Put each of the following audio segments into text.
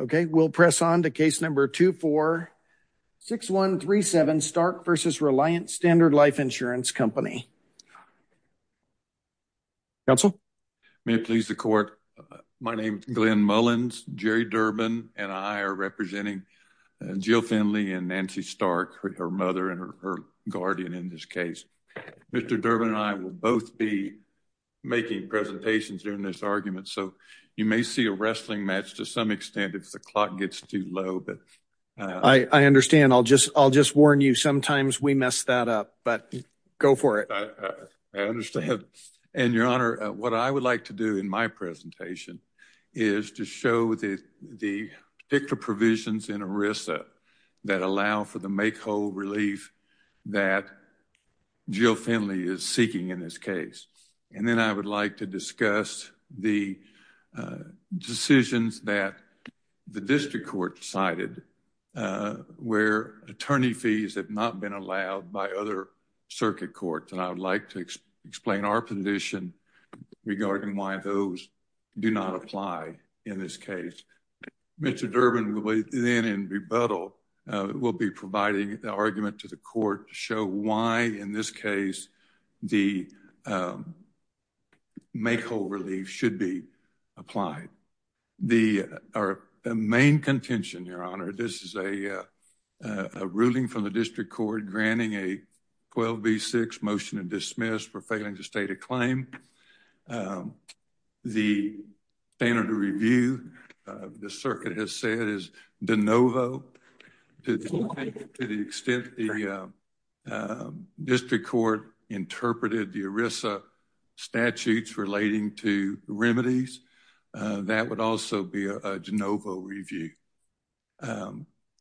Okay, we'll press on to case number 246137 Stark v. Reliance Standard Life Insurance Company. Counsel? May it please the court. My name is Glenn Mullins. Jerry Durbin and I are representing Jill Finley and Nancy Stark, her mother and her guardian in this case. Mr. Durbin and I will both be making presentations during this argument so you may see a wrestling match to some extent if the clock gets too low. I understand. I'll just warn you sometimes we mess that up, but go for it. I understand. And your honor, what I would like to do in my presentation is to show the particular provisions in ERISA that allow for the make whole relief that Jill Finley is seeking in this case. And then I would like to discuss the decisions that the district court cited where attorney fees have not been allowed by other circuit courts, and I would like to explain our position regarding why those do not apply in this case. Mr. Durbin will then, in rebuttal, will be providing the argument to the court to show why in this case the make whole relief should be applied. The our main contention, your honor, this is a ruling from the district court granting a 12 v 6 motion to dismiss for failing to state a name. The standard of review the circuit has said is de novo. To the extent the district court interpreted the ERISA statutes relating to remedies, that would also be a de novo review.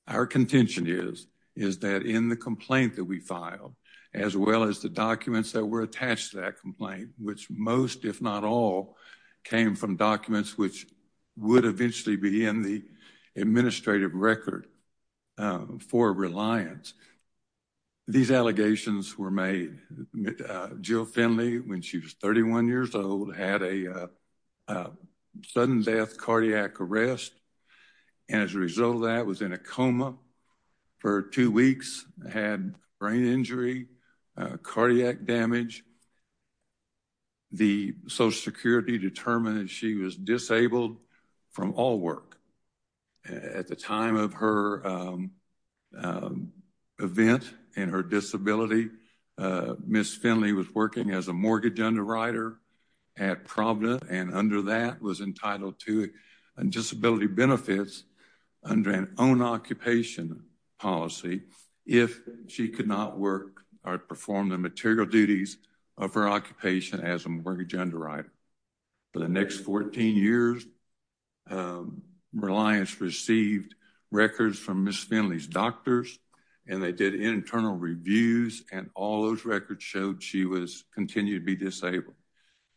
Our contention is that in the complaint that we filed, as well as the documents that were attached to that complaint, which most if not all came from documents which would eventually be in the administrative record for reliance, these allegations were made. Jill Finley, when she was 31 years old, had a sudden death cardiac arrest, and as a result of that was in a coma for two weeks, had brain injury, cardiac damage. The social security determined she was disabled from all work. At the time of her event and her disability, Ms. Finley was working as a mortgage underwriter at Providence and under that was entitled to disability benefits under an own occupation policy if she could not work or perform the material duties of her occupation as a mortgage underwriter. For the next 14 years, Reliance received records from Ms. Finley's doctors and they did internal reviews and all those records showed she was continued to be disabled.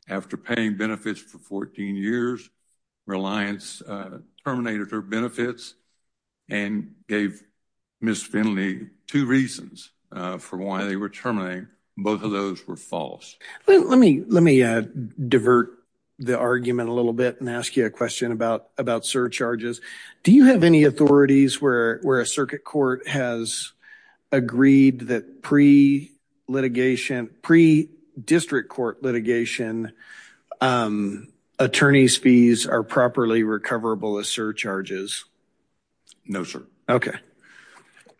After paying benefits for 14 years, Reliance terminated her benefits and gave Ms. Finley two reasons for why they were terminating. Both of those were false. Let me divert the argument a little bit and ask you a question about surcharges. Do you have any authorities where a circuit court has agreed that pre-district court litigation attorney's fees are properly recoverable as surcharges? No, sir. Okay.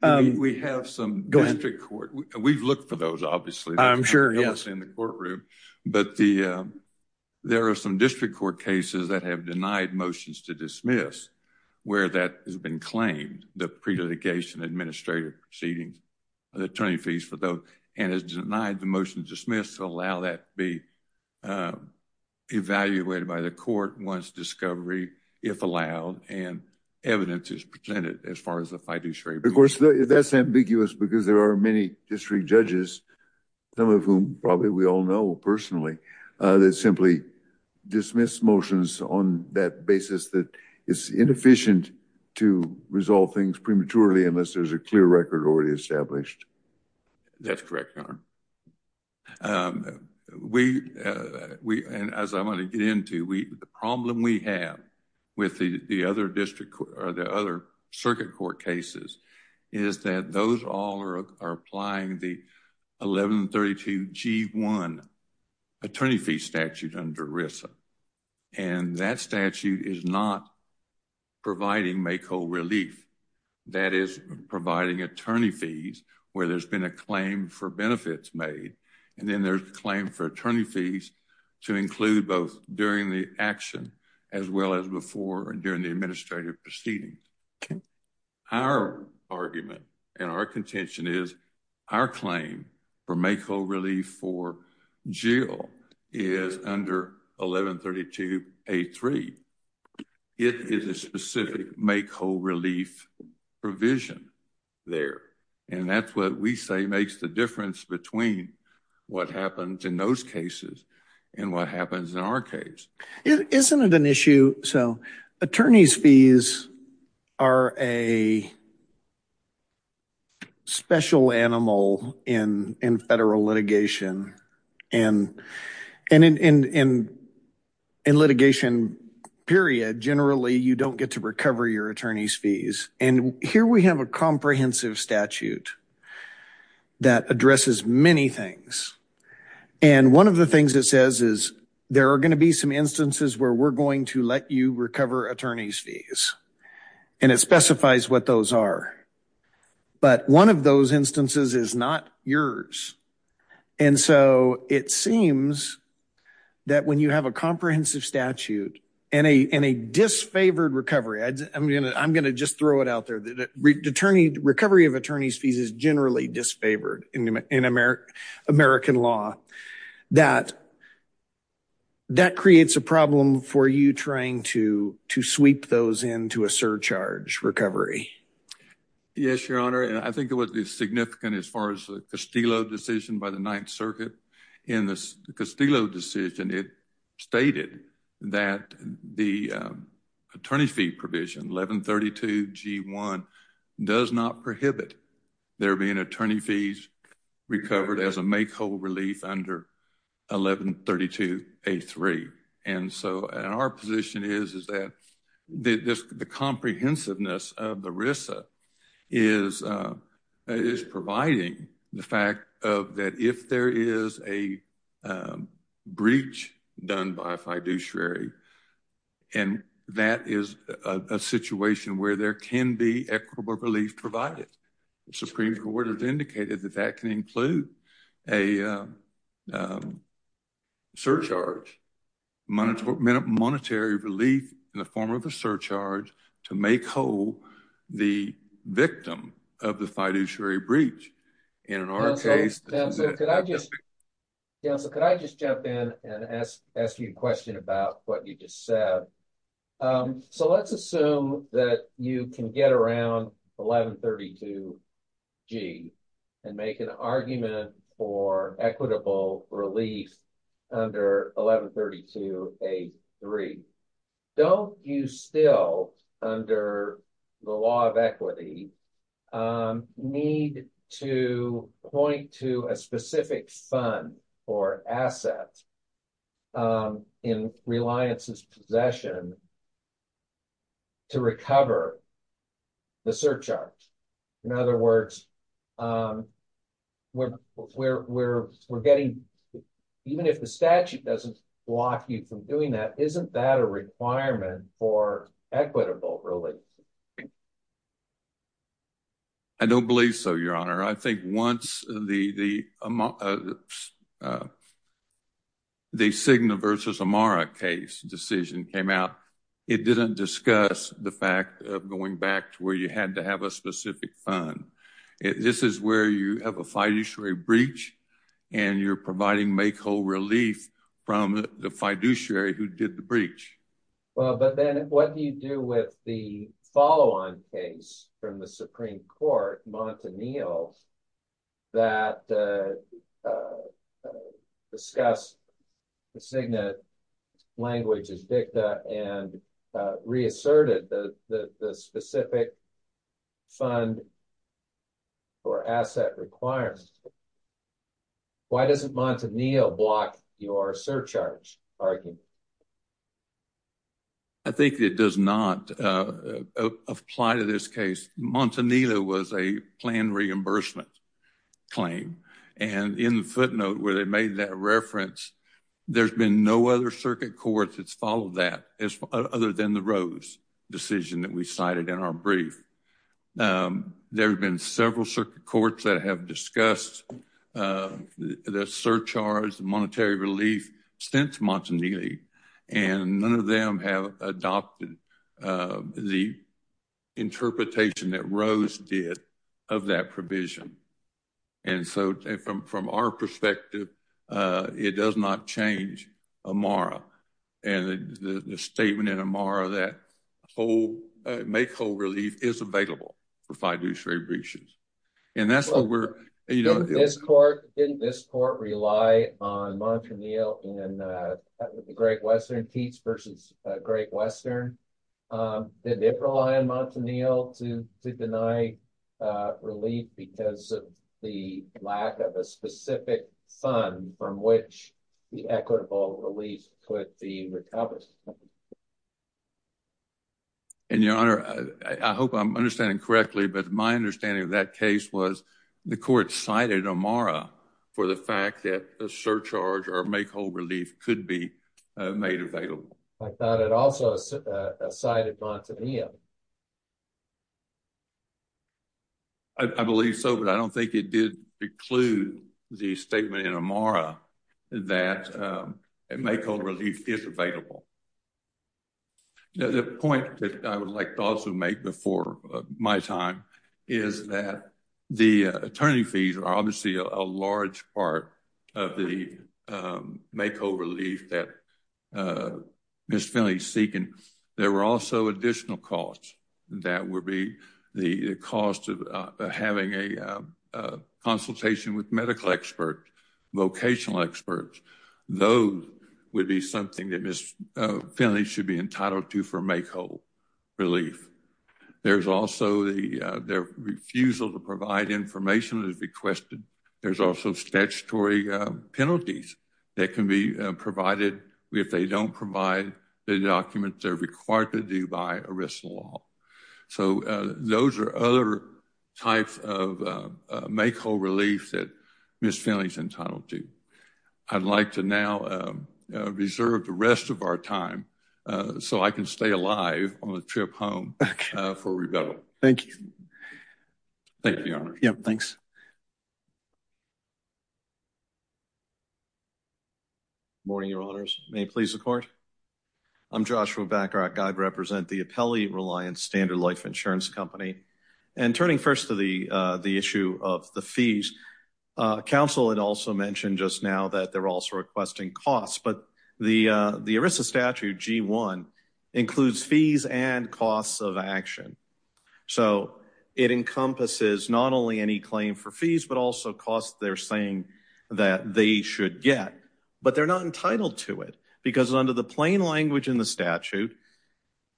We have some district court. We've looked for those, obviously. I'm sure. Yes, in the courtroom, but there are some district court cases that have denied motions to dismiss where that has been claimed the pre-dedication administrator proceedings attorney fees for those and has denied the motion to dismiss to allow that be evaluated by the court once discovery if allowed and evidence is presented as far as the fiduciary. Of course, that's ambiguous because there are many district judges, some of whom probably we all know personally, that simply dismiss motions on that basis that is inefficient to resolve things prematurely unless there's a clear record already established. That's correct, Your Honor. We, and as I want to get into, the problem we have with the other district or the other RISA and that statute is not providing make whole relief. That is providing attorney fees where there's been a claim for benefits made and then there's a claim for attorney fees to include both during the action as well as before and during the administrative proceedings. Okay. Our argument and our contention is our claim for make whole relief for Jill is under 1132A3. It is a specific make whole relief provision there and that's what we say makes the difference between what happens in those cases and what happens in our case. Isn't it an issue, so attorney's fees are a special animal in federal litigation and in litigation period, generally, you don't get to recover your attorney's fees and here we have a comprehensive statute that addresses many things and one of the things it says is there are going be some instances where we're going to let you recover attorney's fees and it specifies what those are but one of those instances is not yours and so it seems that when you have a comprehensive statute and a disfavored recovery, I'm going to just throw it out there, the attorney, recovery of attorney's fees is generally disfavored in American law that creates a problem for you trying to to sweep those into a surcharge recovery. Yes, your honor and I think it was significant as far as the Castillo decision by the ninth circuit in the Castillo decision. It stated that the attorney fee provision 1132 g1 does not prohibit there being attorney fees recovered as a make whole relief under 1132 a3 and so our position is that the comprehensiveness of the RISA is providing the fact that if there is a breach done by a fiduciary and that is a situation where there can be equitable relief provided. The supreme court has indicated that that can include a surcharge monetary relief in the form of a surcharge to make whole the victim of the fiduciary breach in our case. Counsel, could I just jump in and ask you a question about what you just said? So let's assume that you can get around 1132 g and make an argument for equitable relief under 1132 a3. Don't you still under the law of equity need to point to a specific fund or asset in reliance's possession to recover the surcharge? In other words, even if the statute doesn't block you from doing that, isn't that a requirement for equitable relief? I don't believe so, your honor. I think once the the Cigna versus Amara case decision came out it didn't discuss the fact of going back to where you had to have a specific fund. This is where you have a fiduciary breach and you're providing make whole relief from the fiduciary who did the breach. Well, but then what do you do with the follow-on case from the Supreme Court, Montanil, that discussed the Cigna language as dicta and reasserted the specific fund or asset requirements? Why doesn't Montanil block your surcharge argument? I think it does not apply to this case. Montanil was a plan reimbursement claim and in the footnote where they made that reference there's been no other circuit court that's followed that as other than the Rose decision that we cited in our brief. There have been several circuit courts that have discussed the surcharge monetary relief since Montanil and none of them have adopted the interpretation that Rose did of that provision and so from our perspective it does not change Amara and the statement in Amara that whole make whole relief is available for fiduciary breaches and that's what we're you know this court didn't this court rely on Montanil and uh the great western teats versus uh great western um did it rely on Montanil to to deny uh relief because of the lack of a specific fund from which the equitable relief could be accomplished and your honor I hope I'm understanding correctly but my understanding of that case was the court cited Amara for the fact that a surcharge or make whole relief could be made available. I thought it also cited Montanil. I believe so but I don't think it did preclude the statement in Amara that um makeover relief is available. The point that I would like to also make before my time is that the attorney fees are obviously a large part of the um makeover relief that uh Ms. Finley's seeking. There were also additional costs that would be the cost of having a consultation with medical expert vocational experts. Those would be something that Ms. Finley should be entitled to for make whole relief. There's also the their refusal to provide information as requested. There's also statutory penalties that can be provided if they don't provide the documents they're required to do by arrest law. So those are other types of make whole relief that Ms. Finley's entitled to. I'd like to now reserve the rest of our time so I can stay alive on the trip home for rebuttal. Thank you. Thank you your honor. Yep thanks. Good morning your honors. May it please the court. I'm Joshua Backrock. I represent the Appellee Reliance Standard Life Insurance Company and turning first to the uh the issue of the fees. Uh council had also mentioned just now that they're also requesting costs but the uh the ERISA statute g1 includes fees and costs of action. So it encompasses not only any for fees but also costs they're saying that they should get. But they're not entitled to it because under the plain language in the statute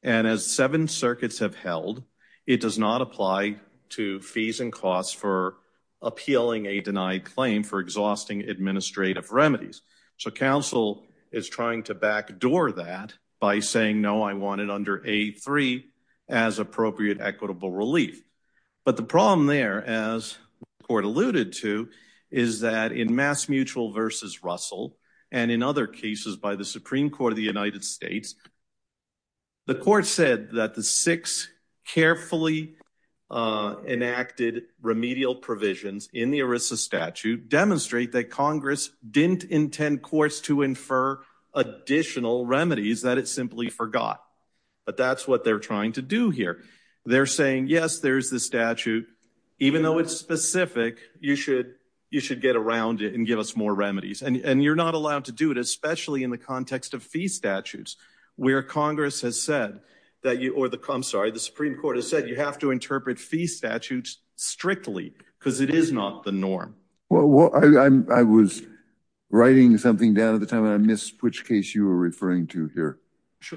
and as seven circuits have held it does not apply to fees and costs for appealing a denied claim for exhausting administrative remedies. So council is trying to backdoor that by saying no I want it under a3 as appropriate equitable relief. But the problem there as the court alluded to is that in Mass Mutual versus Russell and in other cases by the Supreme Court of the United States the court said that the six carefully uh enacted remedial provisions in the ERISA statute demonstrate that congress didn't intend courts to infer additional remedies that it simply forgot. But that's what they're trying to do here. They're saying yes there's the statute even though it's specific you should you should get around it and give us more remedies and and you're not allowed to do it especially in the context of fee statutes where congress has said that you or the I'm sorry the supreme court has said you have to interpret fee statutes strictly because it is not the norm. Well I was writing something down at the time and I missed which case you were referring to here.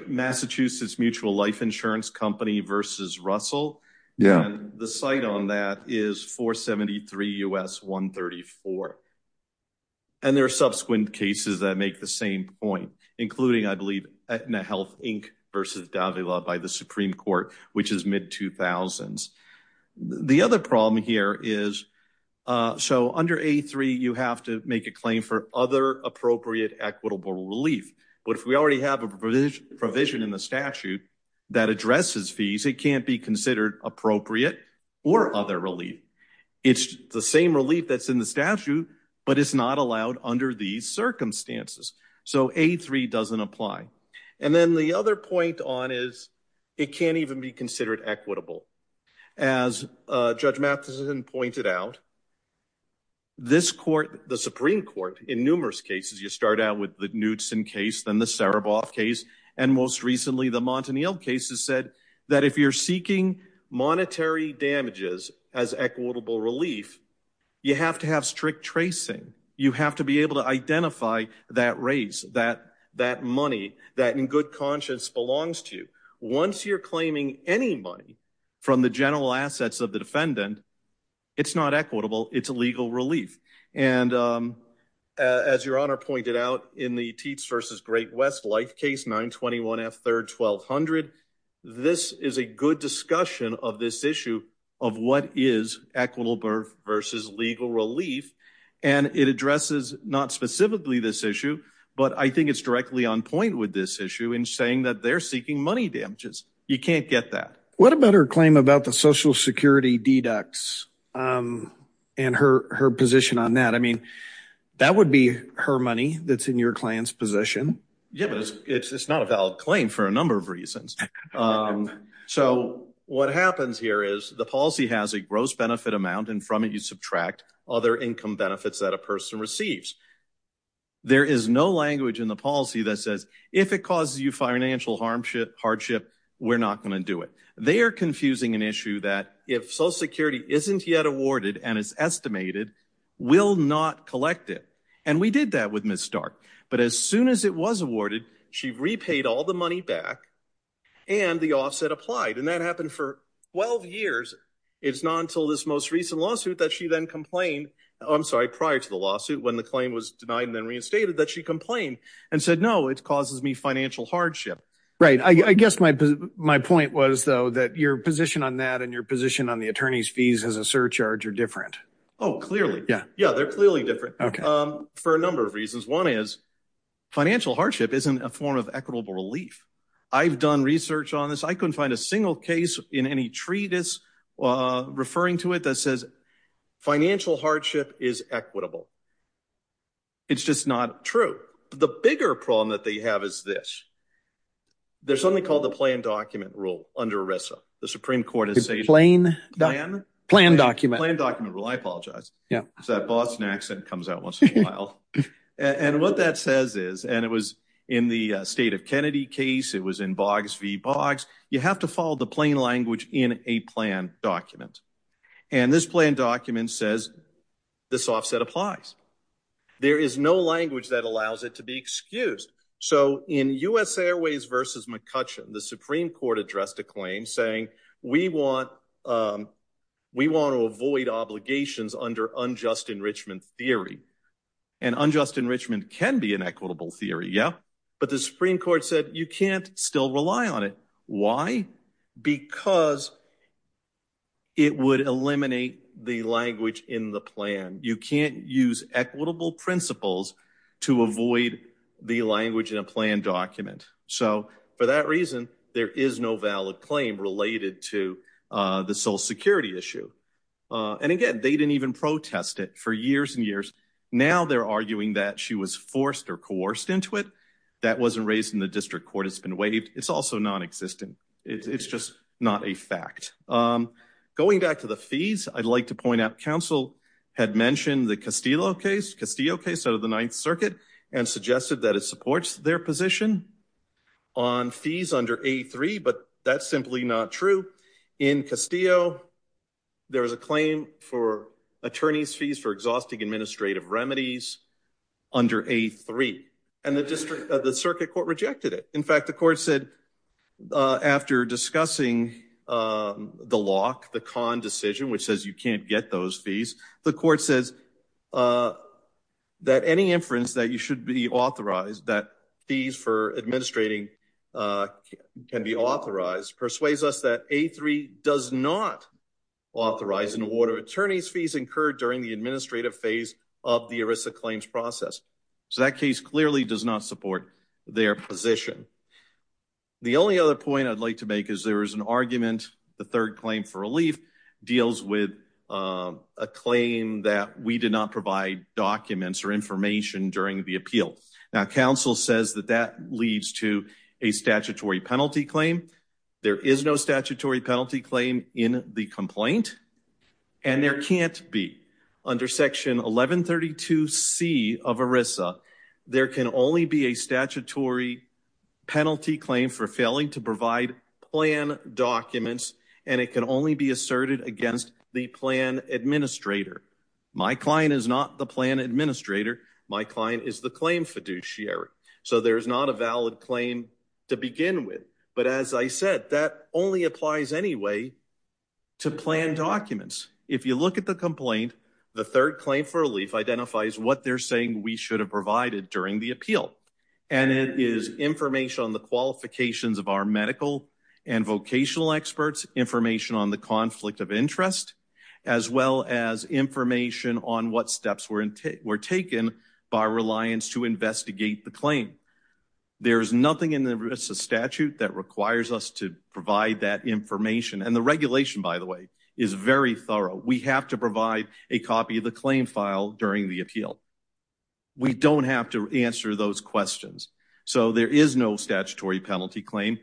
Massachusetts Mutual Life Insurance Company versus Russell yeah the site on that is 473 U.S. 134 and there are subsequent cases that make the same point including I believe Aetna Health Inc versus Davila by the supreme court which is mid-2000s. The other problem here is uh so under a3 you have to make a claim for other appropriate equitable relief but if we already have a provision in the statute that addresses fees it can't be considered appropriate or other relief. It's the same relief that's in the statute but it's not allowed under these circumstances so a3 doesn't apply. And then the other point on is it can't even be considered equitable. As uh Judge Matheson pointed out this court the supreme court in numerous cases you start out with the Knutson case then the Saraboff case and most recently the Montaniel cases said that if you're seeking monetary damages as equitable relief you have to have strict tracing. You have to be able to identify that raise that that money that in good conscience belongs to you. Once you're claiming any money from the general assets of the defendant it's not equitable it's illegal relief. And um as your honor pointed out in the Teats versus Great West life case 921 f third 1200 this is a good discussion of this issue of what is equitable versus legal relief and it addresses not specifically this issue but I think it's directly on point with this issue in saying that they're seeking money damages. You can't get that. What about her claim about the social security deducts um and her her position on that? I mean that would be her money that's in your client's position. Yeah but it's it's not a valid claim for a number of reasons. Um so what happens here is the policy has a gross benefit amount and from it you subtract other income benefits that a person receives. There is no language in the policy that says if it causes you financial hardship hardship we're not going to do it. They are confusing an issue that if social security isn't yet awarded and is estimated we'll not collect it and we did that with Ms. Stark. But as soon as it was awarded she repaid all the money back and the offset applied and that happened for 12 years. It's not until this most recent lawsuit that she then complained. I'm sorry prior to the lawsuit when the claim was denied and then reinstated that she complained and said no it causes me financial hardship. Right I guess my my point was though that your position on that and your position on the attorney's fees as a surcharge are different. Oh clearly yeah yeah they're clearly different um for a number of reasons. One is financial hardship isn't a form of equitable relief. I've done research on this. I couldn't find a single case in any treatise uh referring to it that says financial hardship is equitable. It's just not true. The bigger problem that they have is this. There's something called the plan document rule under ERISA. The Supreme Court has a plain plan document plan document rule. I apologize yeah it's that Boston accent comes out once in a while and what that says is and it was in the state of Kennedy case it was in Boggs v. Boggs. You have to follow the plain language in a plan document and this plan document says this offset applies. There is no language that allows it to be excused. So in U.S. Airways v. McCutcheon the Supreme Court addressed a claim saying we want um we want to avoid obligations under unjust enrichment theory and unjust enrichment can be an equitable theory yeah but the Supreme Court said you can't still rely on it. Why? Because it would eliminate the language in the plan. You can't use equitable principles to avoid the language in a plan document. So for that reason there is no valid claim related to uh the social security issue. And again they didn't even protest it for years and years. Now they're arguing that she was forced or coerced into it. That wasn't raised in the district court. It's been waived. It's also non-existent. It's just not a fact. Um going back to the fees I'd like to point out council had mentioned the Castillo case Castillo case out of the Ninth Circuit and suggested that it supports their position on fees under a3 but that's simply not true. In Castillo there is a claim for attorneys fees for exhausting administrative remedies under a3 and the district the circuit court rejected it. In discussing the lock the con decision which says you can't get those fees the court says that any inference that you should be authorized that fees for administrating can be authorized persuades us that a3 does not authorize an award of attorneys fees incurred during the administrative phase of the ERISA claims process. So that case clearly does not support their position. The only other point I'd like to make is there is an argument the third claim for relief deals with a claim that we did not provide documents or information during the appeal. Now council says that that leads to a statutory penalty claim. There is no statutory penalty claim for failing to provide plan documents and it can only be asserted against the plan administrator. My client is not the plan administrator my client is the claim fiduciary. So there's not a valid claim to begin with but as I said that only applies anyway to plan documents. If you look at the complaint the third claim for relief identifies what they're saying we should have provided during the appeal and it is information on the qualifications of our medical and vocational experts information on the conflict of interest as well as information on what steps were in take were taken by reliance to investigate the claim. There's nothing in the ERISA statute that requires us to provide that information and the regulation by the way is very thorough. We have provide a copy of the claim file during the appeal. We don't have to answer those questions. So there is no statutory penalty claim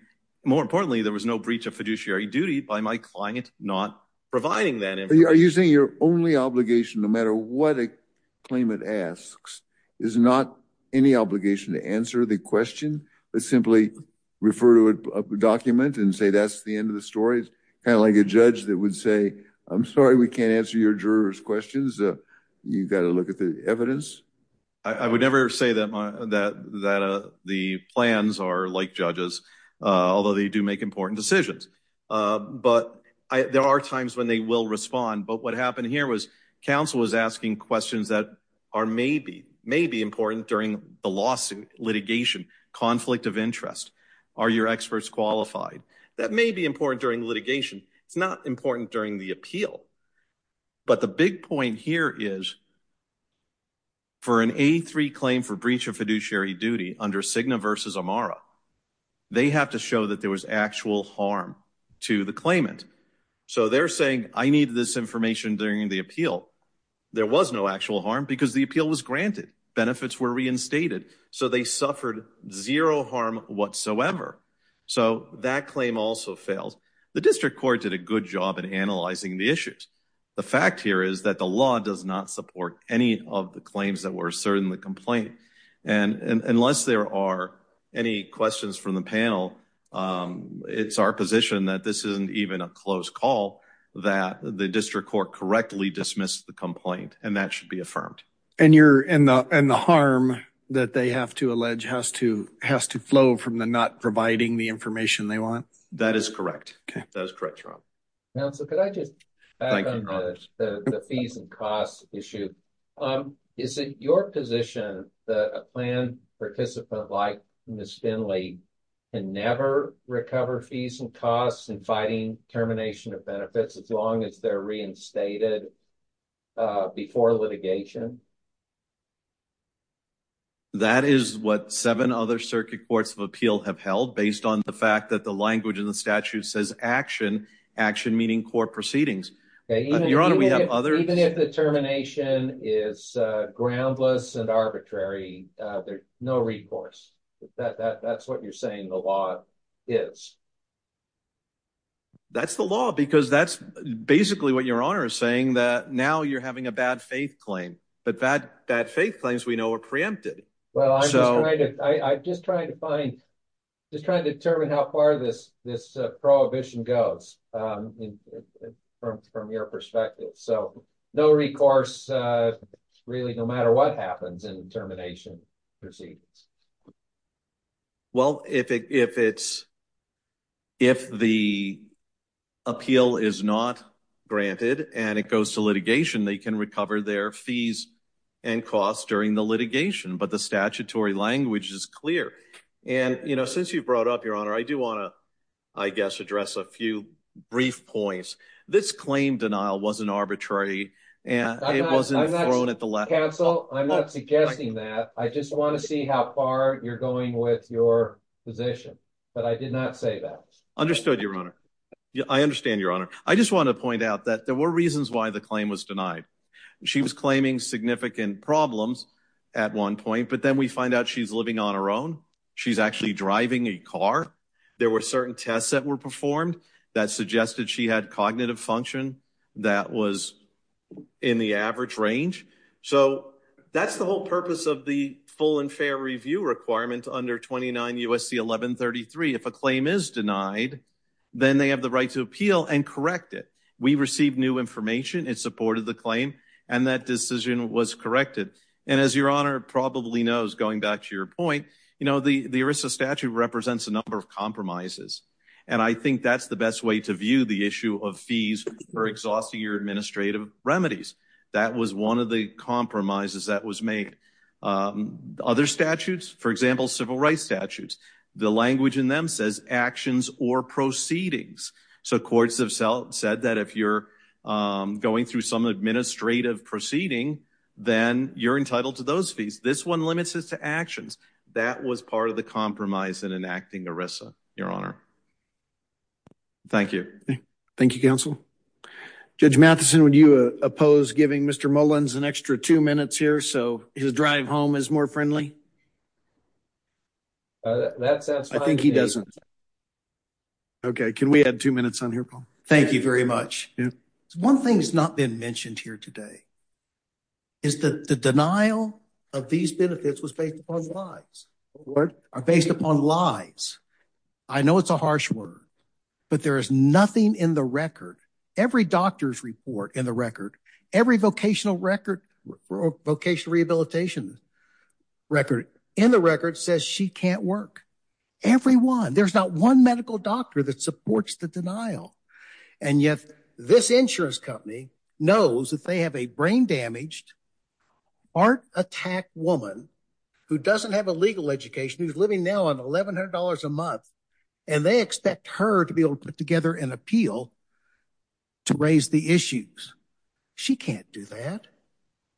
more importantly there was no breach of fiduciary duty by my client not providing that. Are you saying your only obligation no matter what a claimant asks is not any obligation to answer the question but simply refer to a document and say that's the end of the story. It's kind of like a judge that would say I'm sorry we can't answer your jurors questions uh you've got to look at the evidence. I would never say that my that that uh the plans are like judges uh although they do make important decisions uh but I there are times when they will respond but what happened here was council was asking questions that are maybe maybe important during the lawsuit litigation conflict of interest are your experts qualified that may be important during litigation it's not important during the appeal but the big point here is for an a3 claim for breach of fiduciary duty under Cigna versus Amara they have to show that there was actual harm to the claimant so they're saying I need this information during the appeal there was no actual harm because the appeal was granted benefits were reinstated so they suffered zero harm whatsoever so that claim also fails the district court did a good job in analyzing the issues the fact here is that the law does not support any of the claims that were certainly complained and and unless there are any questions from the panel um it's our position that this isn't even a closed call that the district court correctly dismissed the complaint and that should be affirmed and you're in the and the harm that they have to allege has to has to flow from the not providing the information they want that is correct okay that is correct your honor now so could I just the fees and costs issue um is it your position that a plan participant like miss finley can never recover fees and costs and fighting termination of benefits as long as they're reinstated uh before litigation that is what seven other circuit courts of appeal have held based on the fact that the language in the statute says action action meaning court proceedings your honor we have even if the termination is uh groundless and arbitrary uh there's no recourse that that that's what you're saying the law is that's the law because that's basically what your honor is saying that now you're having a bad faith claim but that bad faith claims we know are preempted well I'm just trying to I I'm just trying to find just trying to determine how far this this uh prohibition goes um from from your perspective so no recourse uh really no matter what happens in termination proceedings well if it if it's if the appeal is not granted and it goes to litigation they can recover their fees and costs during the litigation but the statutory language is clear and you know since you brought up your honor I do want to I guess address a few brief points this claim denial wasn't arbitrary and it wasn't thrown at the left counsel I'm not suggesting that I just want to see how far you're going with your position but I did not say that understood your honor I understand your honor I just want to point out that there were reasons why the claim was denied she was claiming significant problems at one point but then we find out she's living on her own she's actually driving a car there were certain tests that were performed that suggested she had cognitive function that was in the average range so that's the whole purpose of the full and fair review requirement under 29 USC 1133 if a claim is denied then they have the right to appeal and correct it we received new information it supported the claim and that decision was corrected and as your honor probably knows going back to your point you know the the ERISA statute represents a number of compromises and I think that's the best way to view the issue of fees for exhausting your administrative remedies that was one of the compromises that was made other statutes for example civil rights statutes the language in says actions or proceedings so courts have self said that if you're going through some administrative proceeding then you're entitled to those fees this one limits us to actions that was part of the compromise in enacting ERISA your honor thank you thank you counsel Judge Matheson would you oppose giving Mr. Mullins an extra two minutes here so his drive home is more friendly that sounds I think he doesn't okay can we add two minutes on here Paul thank you very much yeah one thing's not been mentioned here today is that the denial of these benefits was based upon lies what are based upon lies I know it's a harsh word but there is nothing in the record every doctor's report in the record every vocational record vocational rehabilitation record in the record says she can't work everyone there's not one medical doctor that supports the denial and yet this insurance company knows that they have a brain damaged art attack woman who doesn't have a legal education who's living now on eleven hundred dollars a month and they expect her to be able to put together an appeal to raise the issues she can't do that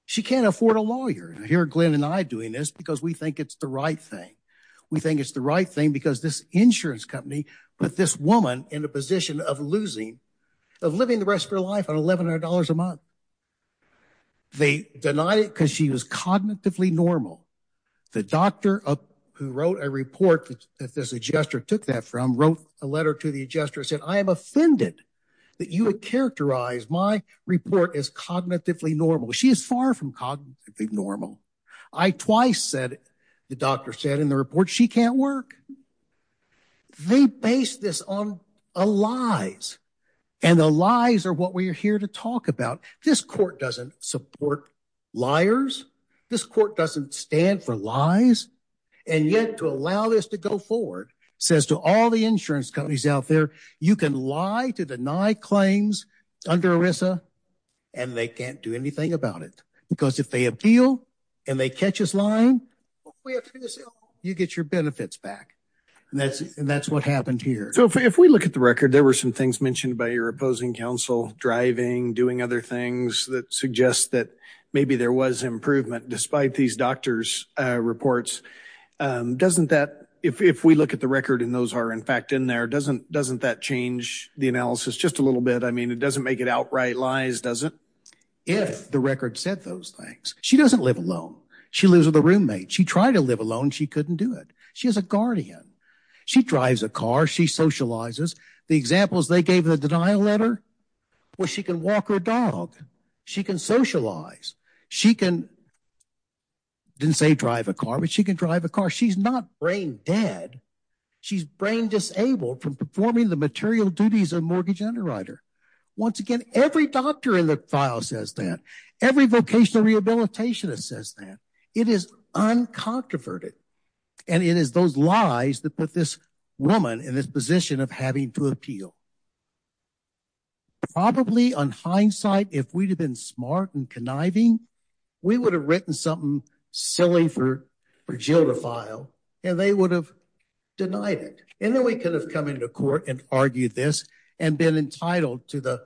she can't afford a lawyer here Glenn and I doing this because we think it's the right thing we think it's the right thing because this insurance company put this woman in a position of losing of living the rest of her life on eleven hundred dollars a month they denied it because she was cognitively normal the doctor who wrote a report that this adjuster took that from wrote a letter to the adjuster said I am offended that you would characterize my report as cognitively normal she is far from cognitively normal I twice said the doctor said in the report she can't work they base this on a lies and the lies are what we are here to talk about this court doesn't support liars this court doesn't stand for lies and yet to allow this to go forward says to all the insurance companies out there you can lie to deny claims under ERISA and they can't do anything about it because if they appeal and they catch us lying you get your benefits back and that's and that's what happened here so if we look at the record there were some things mentioned by your opposing counsel driving doing other things that suggest that maybe there was improvement despite these doctors uh reports um doesn't that if if we look at the record and those are in fact in there doesn't doesn't that change the analysis just a little bit I mean it doesn't make it outright lies doesn't if the record said those things she doesn't live alone she lives with a roommate she tried to live alone she couldn't do it she has a guardian she drives a car she socializes the examples they gave the denial letter where she can walk her dog she can socialize she can didn't say drive a car but she can drive a car she's not brain dead she's brain disabled from performing the material duties of mortgage underwriter once again every doctor in the file says that every vocational rehabilitationist says that it is uncontroverted and it is those lies that put this woman in this position of having to appeal probably on hindsight if we'd have been smart and conniving we would have written something silly for for jill to file and they would have denied it and then we could have come into court and argued this and been entitled to the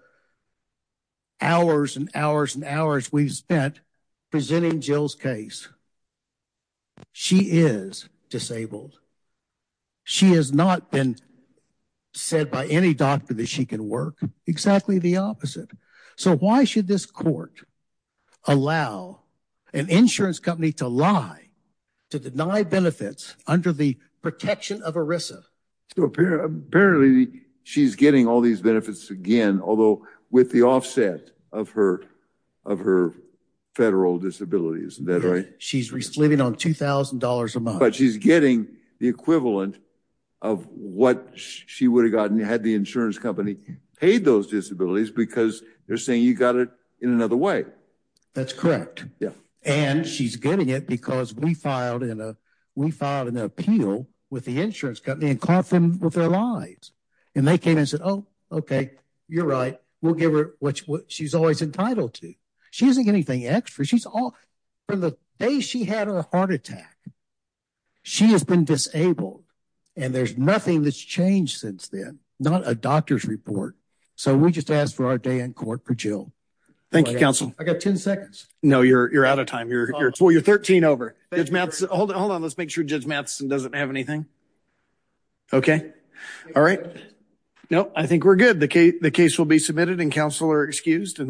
hours and hours and hours we've spent presenting jill's case she is disabled she has not been said by any doctor that she can work exactly the opposite so why should this court allow an insurance company to lie to deny benefits under the protection of erisa so apparently she's getting all these benefits again although with the offset of her of her federal disabilities isn't that right she's living on two thousand dollars a month but she's getting the equivalent of what she would have gotten had the insurance company paid those disabilities because they're saying you got it in another way that's correct yeah and she's getting it because we filed in a we filed an appeal with the insurance company and lied and they came and said oh okay you're right we'll give her what she's always entitled to she isn't getting anything extra she's all from the day she had her heart attack she has been disabled and there's nothing that's changed since then not a doctor's report so we just asked for our day in court for jill thank you counsel i got 10 seconds no you're you're out of time you're well you're 13 over hold on let's make sure judge and doesn't have anything okay all right no i think we're good the case will be submitted and counsel are excused and the